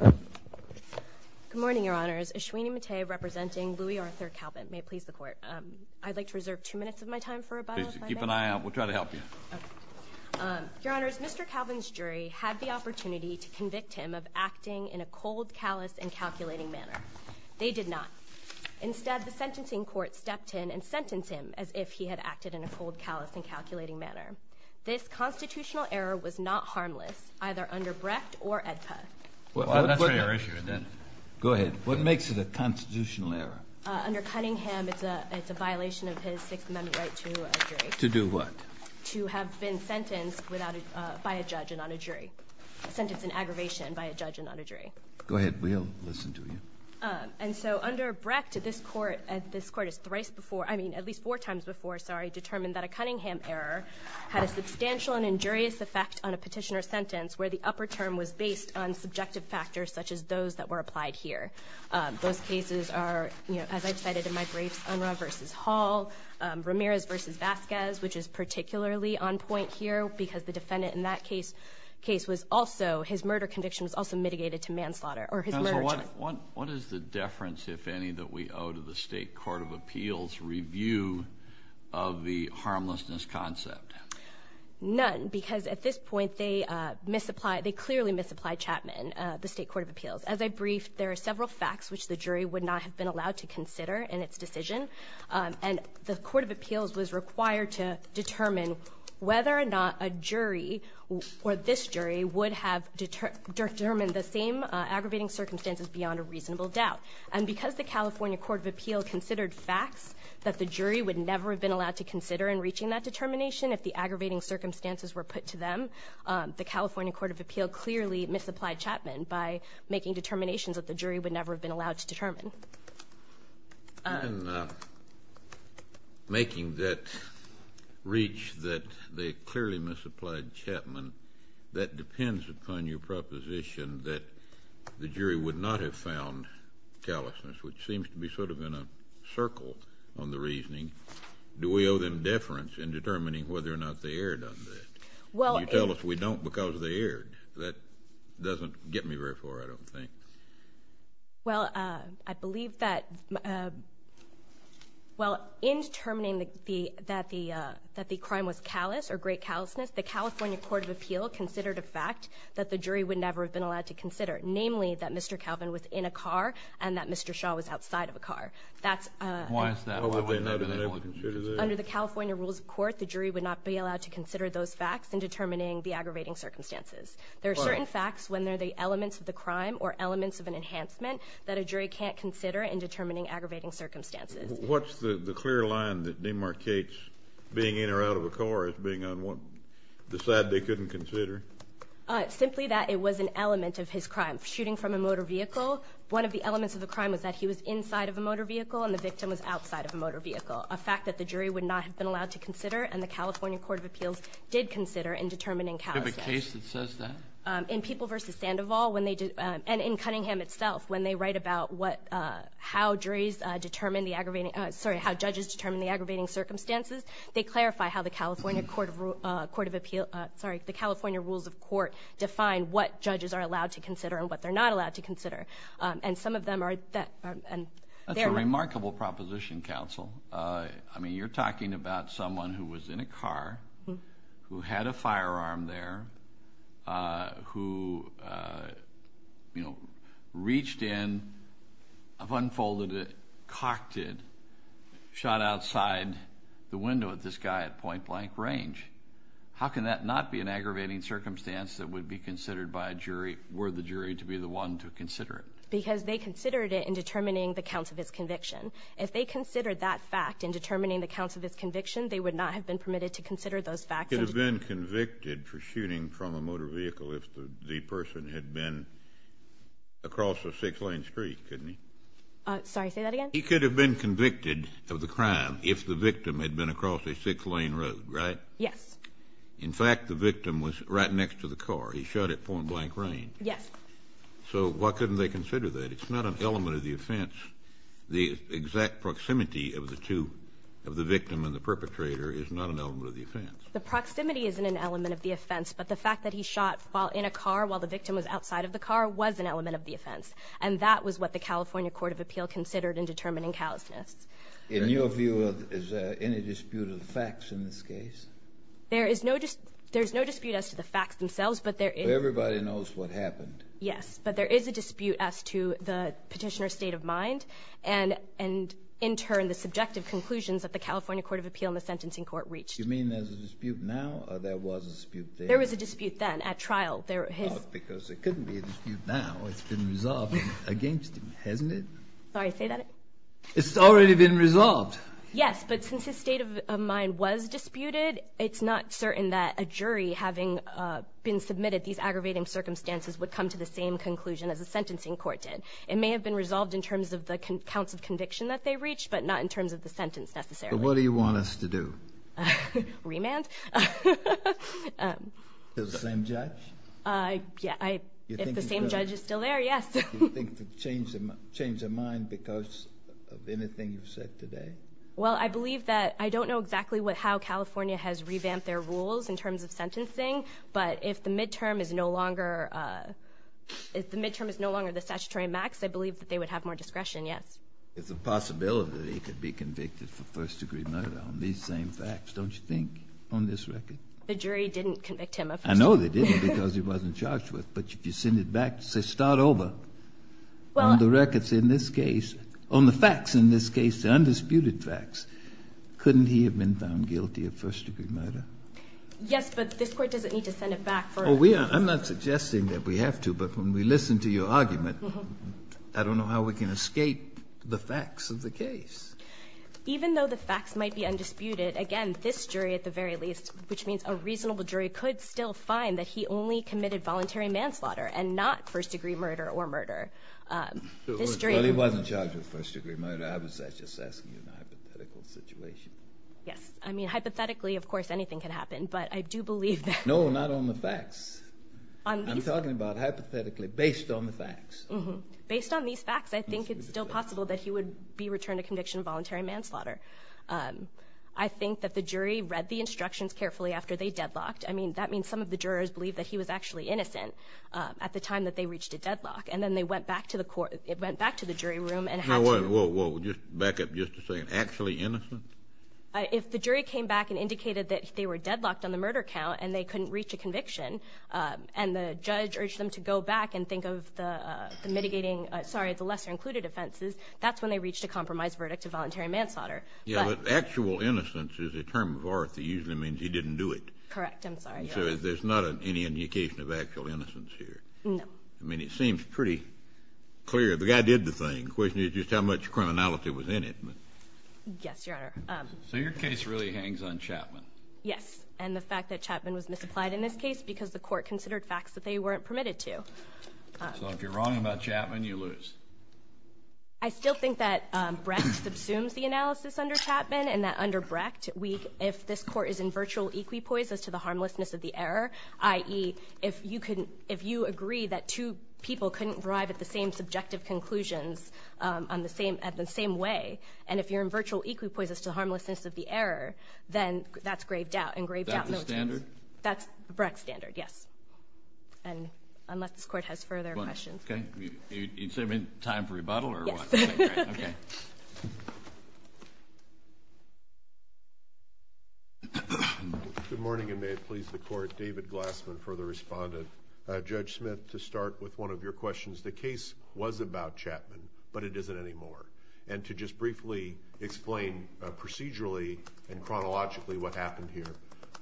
Good morning, Your Honors. Ashwini Mate representing Louis Arthur Calvin. May it please the Court. I'd like to reserve two minutes of my time for rebuttal, if I may. Keep an eye out. We'll try to help you. Your Honors, Mr. Calvin's jury had the opportunity to convict him of acting in a cold, callous, and calculating manner. They did not. Instead, the sentencing court stepped in and sentenced him as if he had acted in a cold, callous, and calculating manner. This constitutional error was not harmless, either under Brecht or AEDPA. Well, that's really our issue, isn't it? Go ahead. What makes it a constitutional error? Under Cunningham, it's a violation of his Sixth Amendment right to a jury. To do what? To have been sentenced without a – by a judge and not a jury. Sentenced in aggravation by a judge and not a jury. Go ahead. We'll listen to you. And so under Brecht, this Court – this Court has thrice before – I mean, at least four times before, sorry – determined that a Cunningham error had a substantial and injurious effect on a petitioner's sentence where the upper term was based on subjective factors such as those that were applied here. Those cases are, you know, as I've cited in my briefs, Unruh v. Hall, Ramirez v. Vasquez, which is particularly on point here because the defendant in that case – case was also – his murder conviction was also mitigated to manslaughter or his murder charge. Counselor, what – what is the deference, if any, that we owe to the State court of appeals' review of the harmlessness concept? None, because at this point they misapply – they clearly misapply Chapman, the State court of appeals. As I briefed, there are several facts which the jury would not have been allowed to consider in its decision, and the court of appeals was required to determine whether or not a jury or this jury would have determined the same aggravating circumstances beyond a reasonable doubt. And because the California court of appeals considered facts that the jury would never have been allowed to consider in reaching that determination, if the aggravating circumstances were put to them, the California court of appeals clearly misapplied Chapman by making determinations that the jury would never have been allowed to determine. And making that reach that they clearly misapplied Chapman, that depends upon your found callousness, which seems to be sort of in a circle on the reasoning. Do we owe them deference in determining whether or not they erred on that? Well, and you tell us we don't because they erred. That doesn't get me very far, I don't think. Well, I believe that – well, in determining that the – that the crime was callous or great callousness, the California court of appeals considered a fact that the jury would never have been allowed to consider, namely that Mr. Calvin was in a car and that Mr. Shaw was outside of a car. That's – Why is that? Why would they not have been able to consider that? Under the California rules of court, the jury would not be allowed to consider those facts in determining the aggravating circumstances. There are certain facts when they're the elements of the crime or elements of an enhancement that a jury can't consider in determining aggravating circumstances. What's the clear line that demarcates being in or out of a car as being on the side they couldn't consider? Simply that it was an element of his crime. Shooting from a motor vehicle, one of the elements of the crime was that he was inside of a motor vehicle and the victim was outside of a motor vehicle, a fact that the jury would not have been allowed to consider and the California court of appeals did consider in determining callousness. Do you have a case that says that? In People v. Sandoval, when they – and in Cunningham itself, when they write about what – how juries determine the aggravating – sorry, how judges determine the aggravating rules of court define what judges are allowed to consider and what they're not allowed to consider. And some of them are – and they're – That's a remarkable proposition, counsel. I mean, you're talking about someone who was in a car, who had a firearm there, who, you know, reached in, unfolded it, cocked it, shot outside the window at this guy at point blank range. How can that not be an aggravating circumstance that would be considered by a jury were the jury to be the one to consider it? Because they considered it in determining the counts of his conviction. If they considered that fact in determining the counts of his conviction, they would not have been permitted to consider those facts. He could have been convicted for shooting from a motor vehicle if the person had been across a six-lane street, couldn't he? Sorry, say that again? He could have been convicted of the crime if the victim had been across a six-lane road, right? Yes. In fact, the victim was right next to the car. He shot at point blank range. Yes. So why couldn't they consider that? It's not an element of the offense. The exact proximity of the two – of the victim and the perpetrator is not an element of the offense. The proximity isn't an element of the offense, but the fact that he shot in a car while the victim was outside of the car was an element of the offense. And that was what the California Court of Appeal considered in determining callousness. In your view, is there any dispute of the facts in this case? There is no dispute as to the facts themselves, but there is – So everybody knows what happened. Yes. But there is a dispute as to the Petitioner's state of mind and, in turn, the subjective conclusions that the California Court of Appeal and the Sentencing Court reached. You mean there's a dispute now or there was a dispute there? There was a dispute then at trial. There was his – Because it couldn't be a dispute now. It's been resolved against him, hasn't it? Sorry, say that again? It's already been resolved. Yes. But since his state of mind was disputed, it's not certain that a jury, having been submitted these aggravating circumstances, would come to the same conclusion as the Sentencing Court did. It may have been resolved in terms of the counts of conviction that they reached, but not in terms of the sentence, necessarily. But what do you want us to do? Remand? Is it the same judge? Yeah. If the same judge is still there, yes. Do you think the change of mind because of anything you've said today? Well, I believe that – I don't know exactly what – how California has revamped their rules in terms of sentencing, but if the midterm is no longer – if the midterm is no longer the statutory max, I believe that they would have more discretion, yes. It's a possibility that he could be convicted for first-degree murder on these same facts, don't you think, on this record? The jury didn't convict him of first-degree murder. I know they didn't because he wasn't charged with it. But if you send it back and say, start over on the records in this case, on the facts in this case, the undisputed facts, couldn't he have been found guilty of first-degree murder? Yes, but this Court doesn't need to send it back for a – I'm not suggesting that we have to, but when we listen to your argument, I don't know how we can escape the facts of the case. Even though the facts might be undisputed, again, this jury at the very least, which he only committed voluntary manslaughter and not first-degree murder or murder. This jury – Well, he wasn't charged with first-degree murder. I was just asking you a hypothetical situation. Yes. I mean, hypothetically, of course, anything can happen, but I do believe that – No, not on the facts. I'm talking about hypothetically, based on the facts. Based on these facts, I think it's still possible that he would be returned to conviction of voluntary manslaughter. I think that the jury read the instructions carefully after they deadlocked. I mean, that means some of the jurors believe that he was actually innocent at the time that they reached a deadlock, and then they went back to the court – went back to the jury room and had to – No, wait, whoa, whoa, just back up just a second. Actually innocent? If the jury came back and indicated that they were deadlocked on the murder count and they couldn't reach a conviction, and the judge urged them to go back and think of the mitigating – sorry, the lesser-included offenses, that's when they reached a compromise verdict of voluntary manslaughter. Yeah, but actual innocence is a term of art that usually means he didn't do it. Correct. I'm sorry. So there's not any indication of actual innocence here? No. I mean, it seems pretty clear. The guy did the thing. The question is just how much criminality was in it. Yes, Your Honor. So your case really hangs on Chapman? Yes. And the fact that Chapman was misapplied in this case because the court considered facts that they weren't permitted to. So if you're wrong about Chapman, you lose. I still think that Brecht subsumes the analysis under Chapman, and that under Brecht, if this court is in virtual equipoises to the harmlessness of the error, i.e., if you agree that two people couldn't arrive at the same subjective conclusions at the same way, and if you're in virtual equipoises to the harmlessness of the error, then that's graved out. And graved out motions. Is that the standard? That's the Brecht standard, yes. And unless this court has further questions. OK. Is there any time for rebuttal or what? Yes. OK. Good morning, and may it please the court. David Glassman, further respondent. Judge Smith, to start with one of your questions. The case was about Chapman, but it isn't anymore. And to just briefly explain procedurally and chronologically what happened here.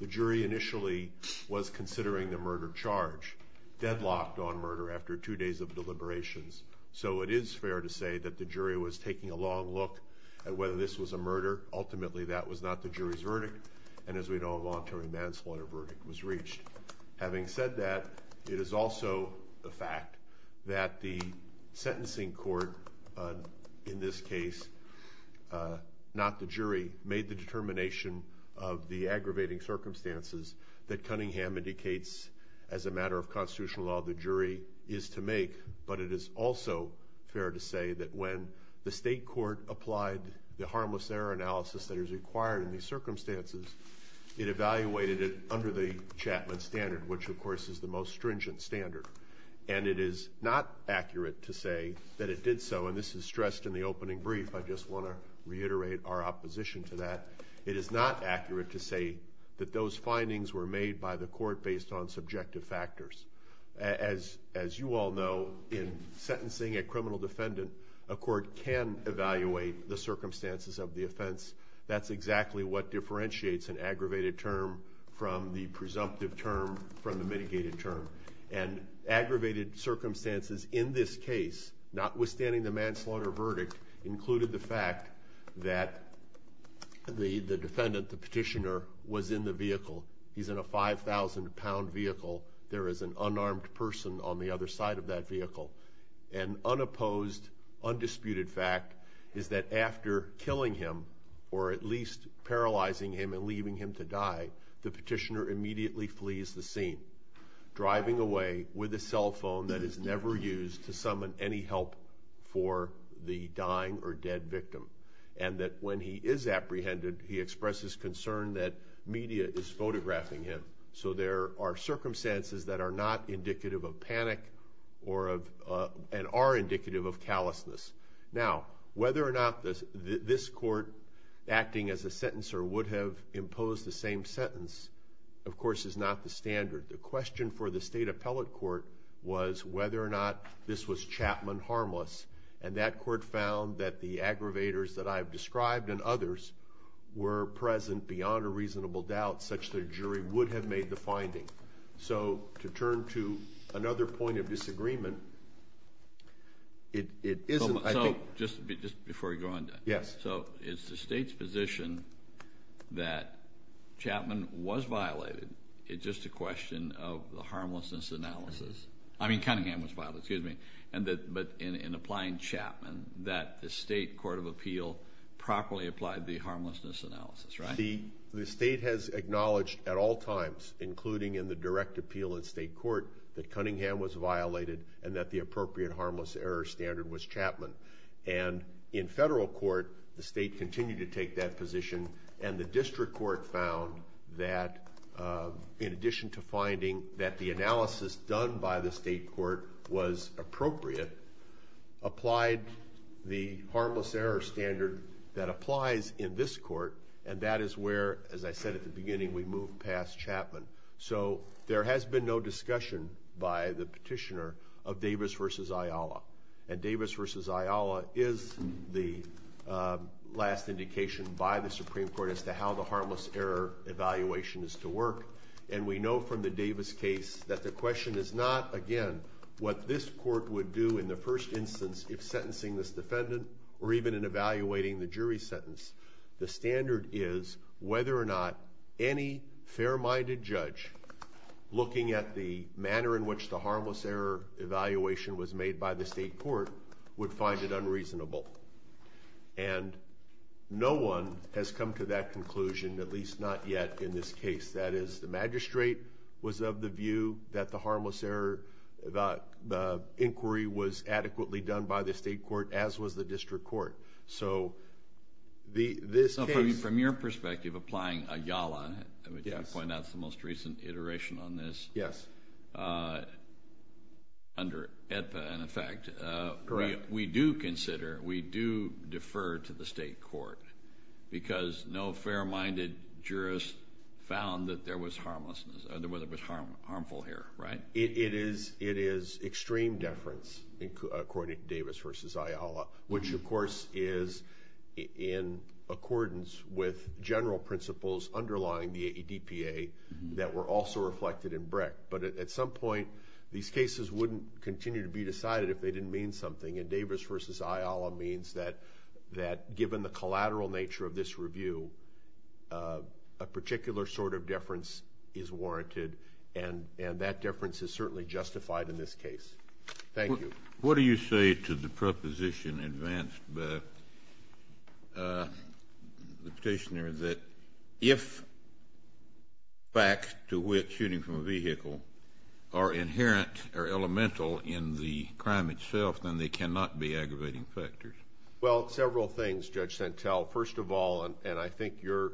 The jury initially was considering the murder charge, deadlocked on murder after two days of deliberations. So it is fair to say that the jury was taking a long look at whether this was a murder. Ultimately, that was not the jury's verdict. And as we know, a voluntary manslaughter verdict was reached. Having said that, it is also a fact that the sentencing court, in this case, not the jury, made the determination of the aggravating circumstances that Cunningham indicates, as a matter of constitutional law, the jury is to make. But it is also fair to say that when the state court applied the harmless error analysis that is required in these circumstances, it evaluated it under the Chapman standard, which, of course, is the most stringent standard. And it is not accurate to say that it did so, and this is stressed in the opening brief, I just want to reiterate our opposition to that. It is not accurate to say that those findings were made by the court based on subjective factors. As you all know, in sentencing a criminal defendant, a court can evaluate the aggravated circumstances. That's exactly what differentiates an aggravated term from the presumptive term, from the mitigated term. And aggravated circumstances in this case, notwithstanding the manslaughter verdict, included the fact that the defendant, the petitioner, was in the vehicle. He's in a 5,000 pound vehicle. There is an unarmed person on the other side of that vehicle. An unopposed, undisputed fact is that after killing him, or at least paralyzing him and leaving him to die, the petitioner immediately flees the scene. Driving away with a cell phone that is never used to summon any help for the dying or dead victim. And that when he is apprehended, he expresses concern that media is photographing him. So there are circumstances that are not indicative of panic, and are indicative of callousness. Now, whether or not this court acting as a sentencer would have imposed the same sentence, of course, is not the standard. The question for the state appellate court was whether or not this was Chapman harmless. And that court found that the aggravators that I've described and others were present beyond a reasonable doubt, such that a jury would have made the finding. So to turn to another point of disagreement, it isn't, I think- Just before you go on, Dan. Yes. So it's the state's position that Chapman was violated. It's just a question of the harmlessness analysis. I mean, Cunningham was violated, excuse me. But in applying Chapman, that the state court of appeal properly applied the harmlessness analysis, right? The state has acknowledged at all times, including in the direct appeal in state court, that Cunningham was violated and that the appropriate harmless error standard was Chapman. And in federal court, the state continued to take that position. And the district court found that in addition to finding that the analysis done by the state court was appropriate, applied the harmless error standard that applies in this court. And that is where, as I said at the beginning, we move past Chapman. So there has been no discussion by the petitioner of Davis versus Ayala. And Davis versus Ayala is the last indication by the Supreme Court as to how the harmless error evaluation is to work. And we know from the Davis case that the question is not, again, what this court would do in the first instance if sentencing this defendant or even in evaluating the jury sentence. The standard is whether or not any fair-minded judge looking at the manner in which the harmless error evaluation was made by the state court would find it unreasonable. And no one has come to that conclusion, at least not yet in this case. That is, the magistrate was of the view that the harmless error inquiry was adequately done by the state court, as was the district court. So this case- So from your perspective, applying Ayala, which I point out is the most recent iteration on this. Yes. Under EIPA, in effect. Correct. We do consider, we do defer to the state court, because no fair-minded jurist found that there was harmlessness, or that it was harmful here, right? It is extreme deference, according to Davis versus Ayala, which of course is in accordance with general principles underlying the ADPA that were also reflected in Brick. But at some point, these cases wouldn't continue to be decided if they didn't mean something, and Davis versus Ayala means that given the collateral nature of this review, a particular sort of deference is warranted. And that deference is certainly justified in this case. Thank you. What do you say to the proposition advanced by the petitioner that if facts to which shooting from a vehicle are inherent or elemental in the crime itself, then they cannot be aggravating factors? Well, several things, Judge Santel. First of all, and I think your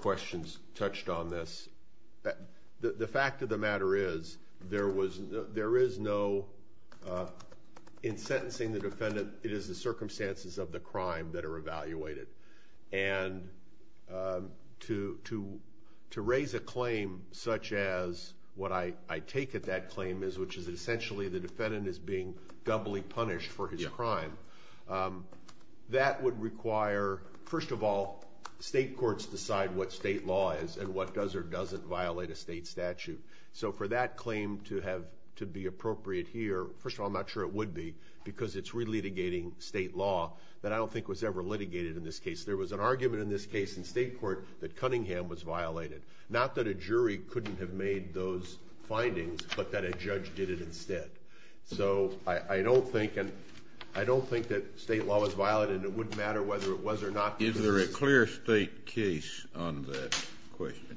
questions touched on this. The fact of the matter is, there is no, in sentencing the defendant, it is the circumstances of the crime that are evaluated. And to raise a claim such as what I take at that claim is, which is essentially the defendant is being doubly punished for his crime. That would require, first of all, state courts decide what state law is and what does or doesn't violate a state statute. So for that claim to be appropriate here, first of all, I'm not sure it would be, because it's re-litigating state law that I don't think was ever litigated in this case. There was an argument in this case in state court that Cunningham was violated. Not that a jury couldn't have made those findings, but that a judge did it instead. So I don't think that state law was violated, and it wouldn't matter whether it was or not. Is there a clear state case on that question?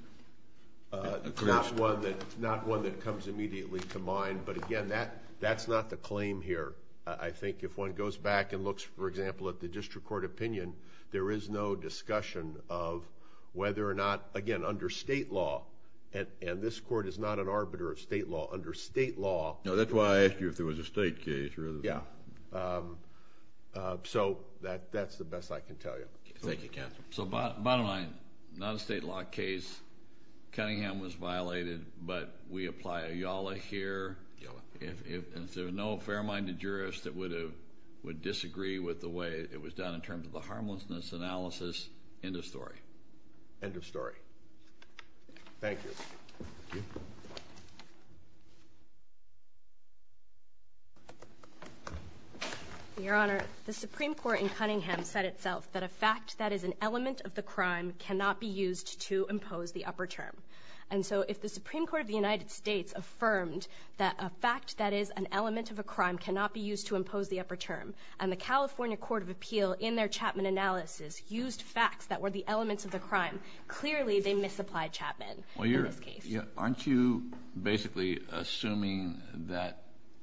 Not one that comes immediately to mind, but again, that's not the claim here. I think if one goes back and looks, for example, at the district court opinion, there is no discussion of whether or not, again, under state law, and this court is not an arbiter of state law, under state law- No, that's why I asked you if there was a state case rather than- Yeah. So that's the best I can tell you. Thank you, counsel. So bottom line, not a state law case. Cunningham was violated, but we apply a YALA here. YALA. If there are no fair-minded jurists that would disagree with the way it was done in terms of the harmlessness analysis, end of story. End of story. Thank you. Thank you. Your Honor, the Supreme Court in Cunningham said itself that a fact that is an element of the crime cannot be used to impose the upper term. And so if the Supreme Court of the United States affirmed that a fact that is an element of a crime cannot be used to impose the upper term, and the California Court of Appeal, in their Chapman analysis, used facts that were the elements of the crime, clearly they misapplied Chapman. Well, aren't you basically assuming that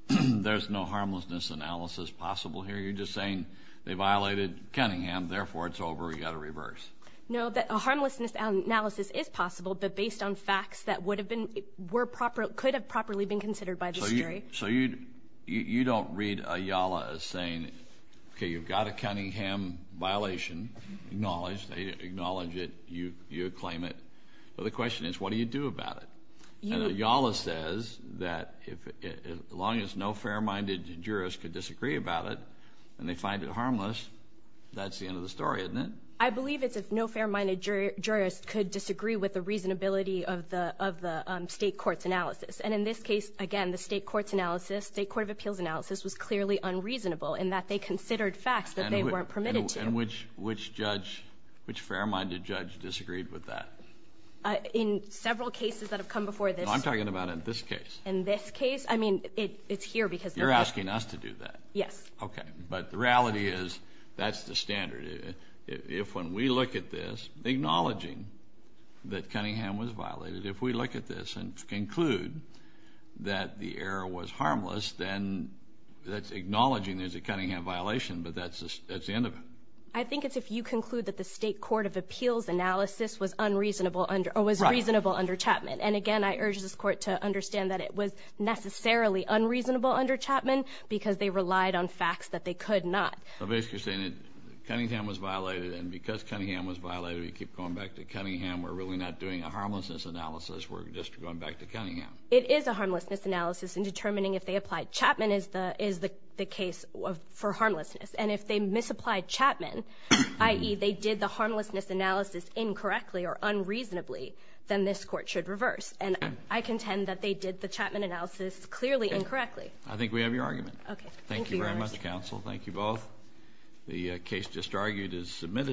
there's no harmlessness analysis possible here? You're just saying they violated Cunningham, therefore it's over, you gotta reverse. No, that a harmlessness analysis is possible, but based on facts that could have properly been considered by the jury. So you don't read a YALA as saying, okay, you've got a Cunningham violation. Acknowledged, they acknowledge it, you claim it. Well, the question is, what do you do about it? YALA says that as long as no fair-minded jurist could disagree about it, and they find it harmless, that's the end of the story, isn't it? I believe it's if no fair-minded jurist could disagree with the reasonability of the state court's analysis. And in this case, again, the state court of appeals analysis was clearly unreasonable in that they considered facts that they weren't permitted to. And which fair-minded judge disagreed with that? In several cases that have come before this- I'm talking about in this case. In this case? I mean, it's here because- You're asking us to do that. Yes. Okay. But the reality is, that's the standard. If when we look at this, acknowledging that Cunningham was violated, if we look at this and conclude that the error was harmless, then that's acknowledging there's a Cunningham violation, but that's the end of it. I think it's if you conclude that the state court of appeals analysis was reasonable under Chapman. And again, I urge this court to understand that it was necessarily unreasonable under Chapman because they relied on facts that they could not. So basically you're saying that Cunningham was violated, and because Cunningham was violated, we keep going back to Cunningham. We're really not doing a harmlessness analysis. We're just going back to Cunningham. It is a harmlessness analysis in determining if they applied. Chapman is the case for harmlessness. And if they misapplied Chapman, i.e. they did the harmlessness analysis incorrectly or unreasonably, then this court should reverse. And I contend that they did the Chapman analysis clearly incorrectly. I think we have your argument. Okay. Thank you very much, counsel. Thank you both. The case just argued is submitted.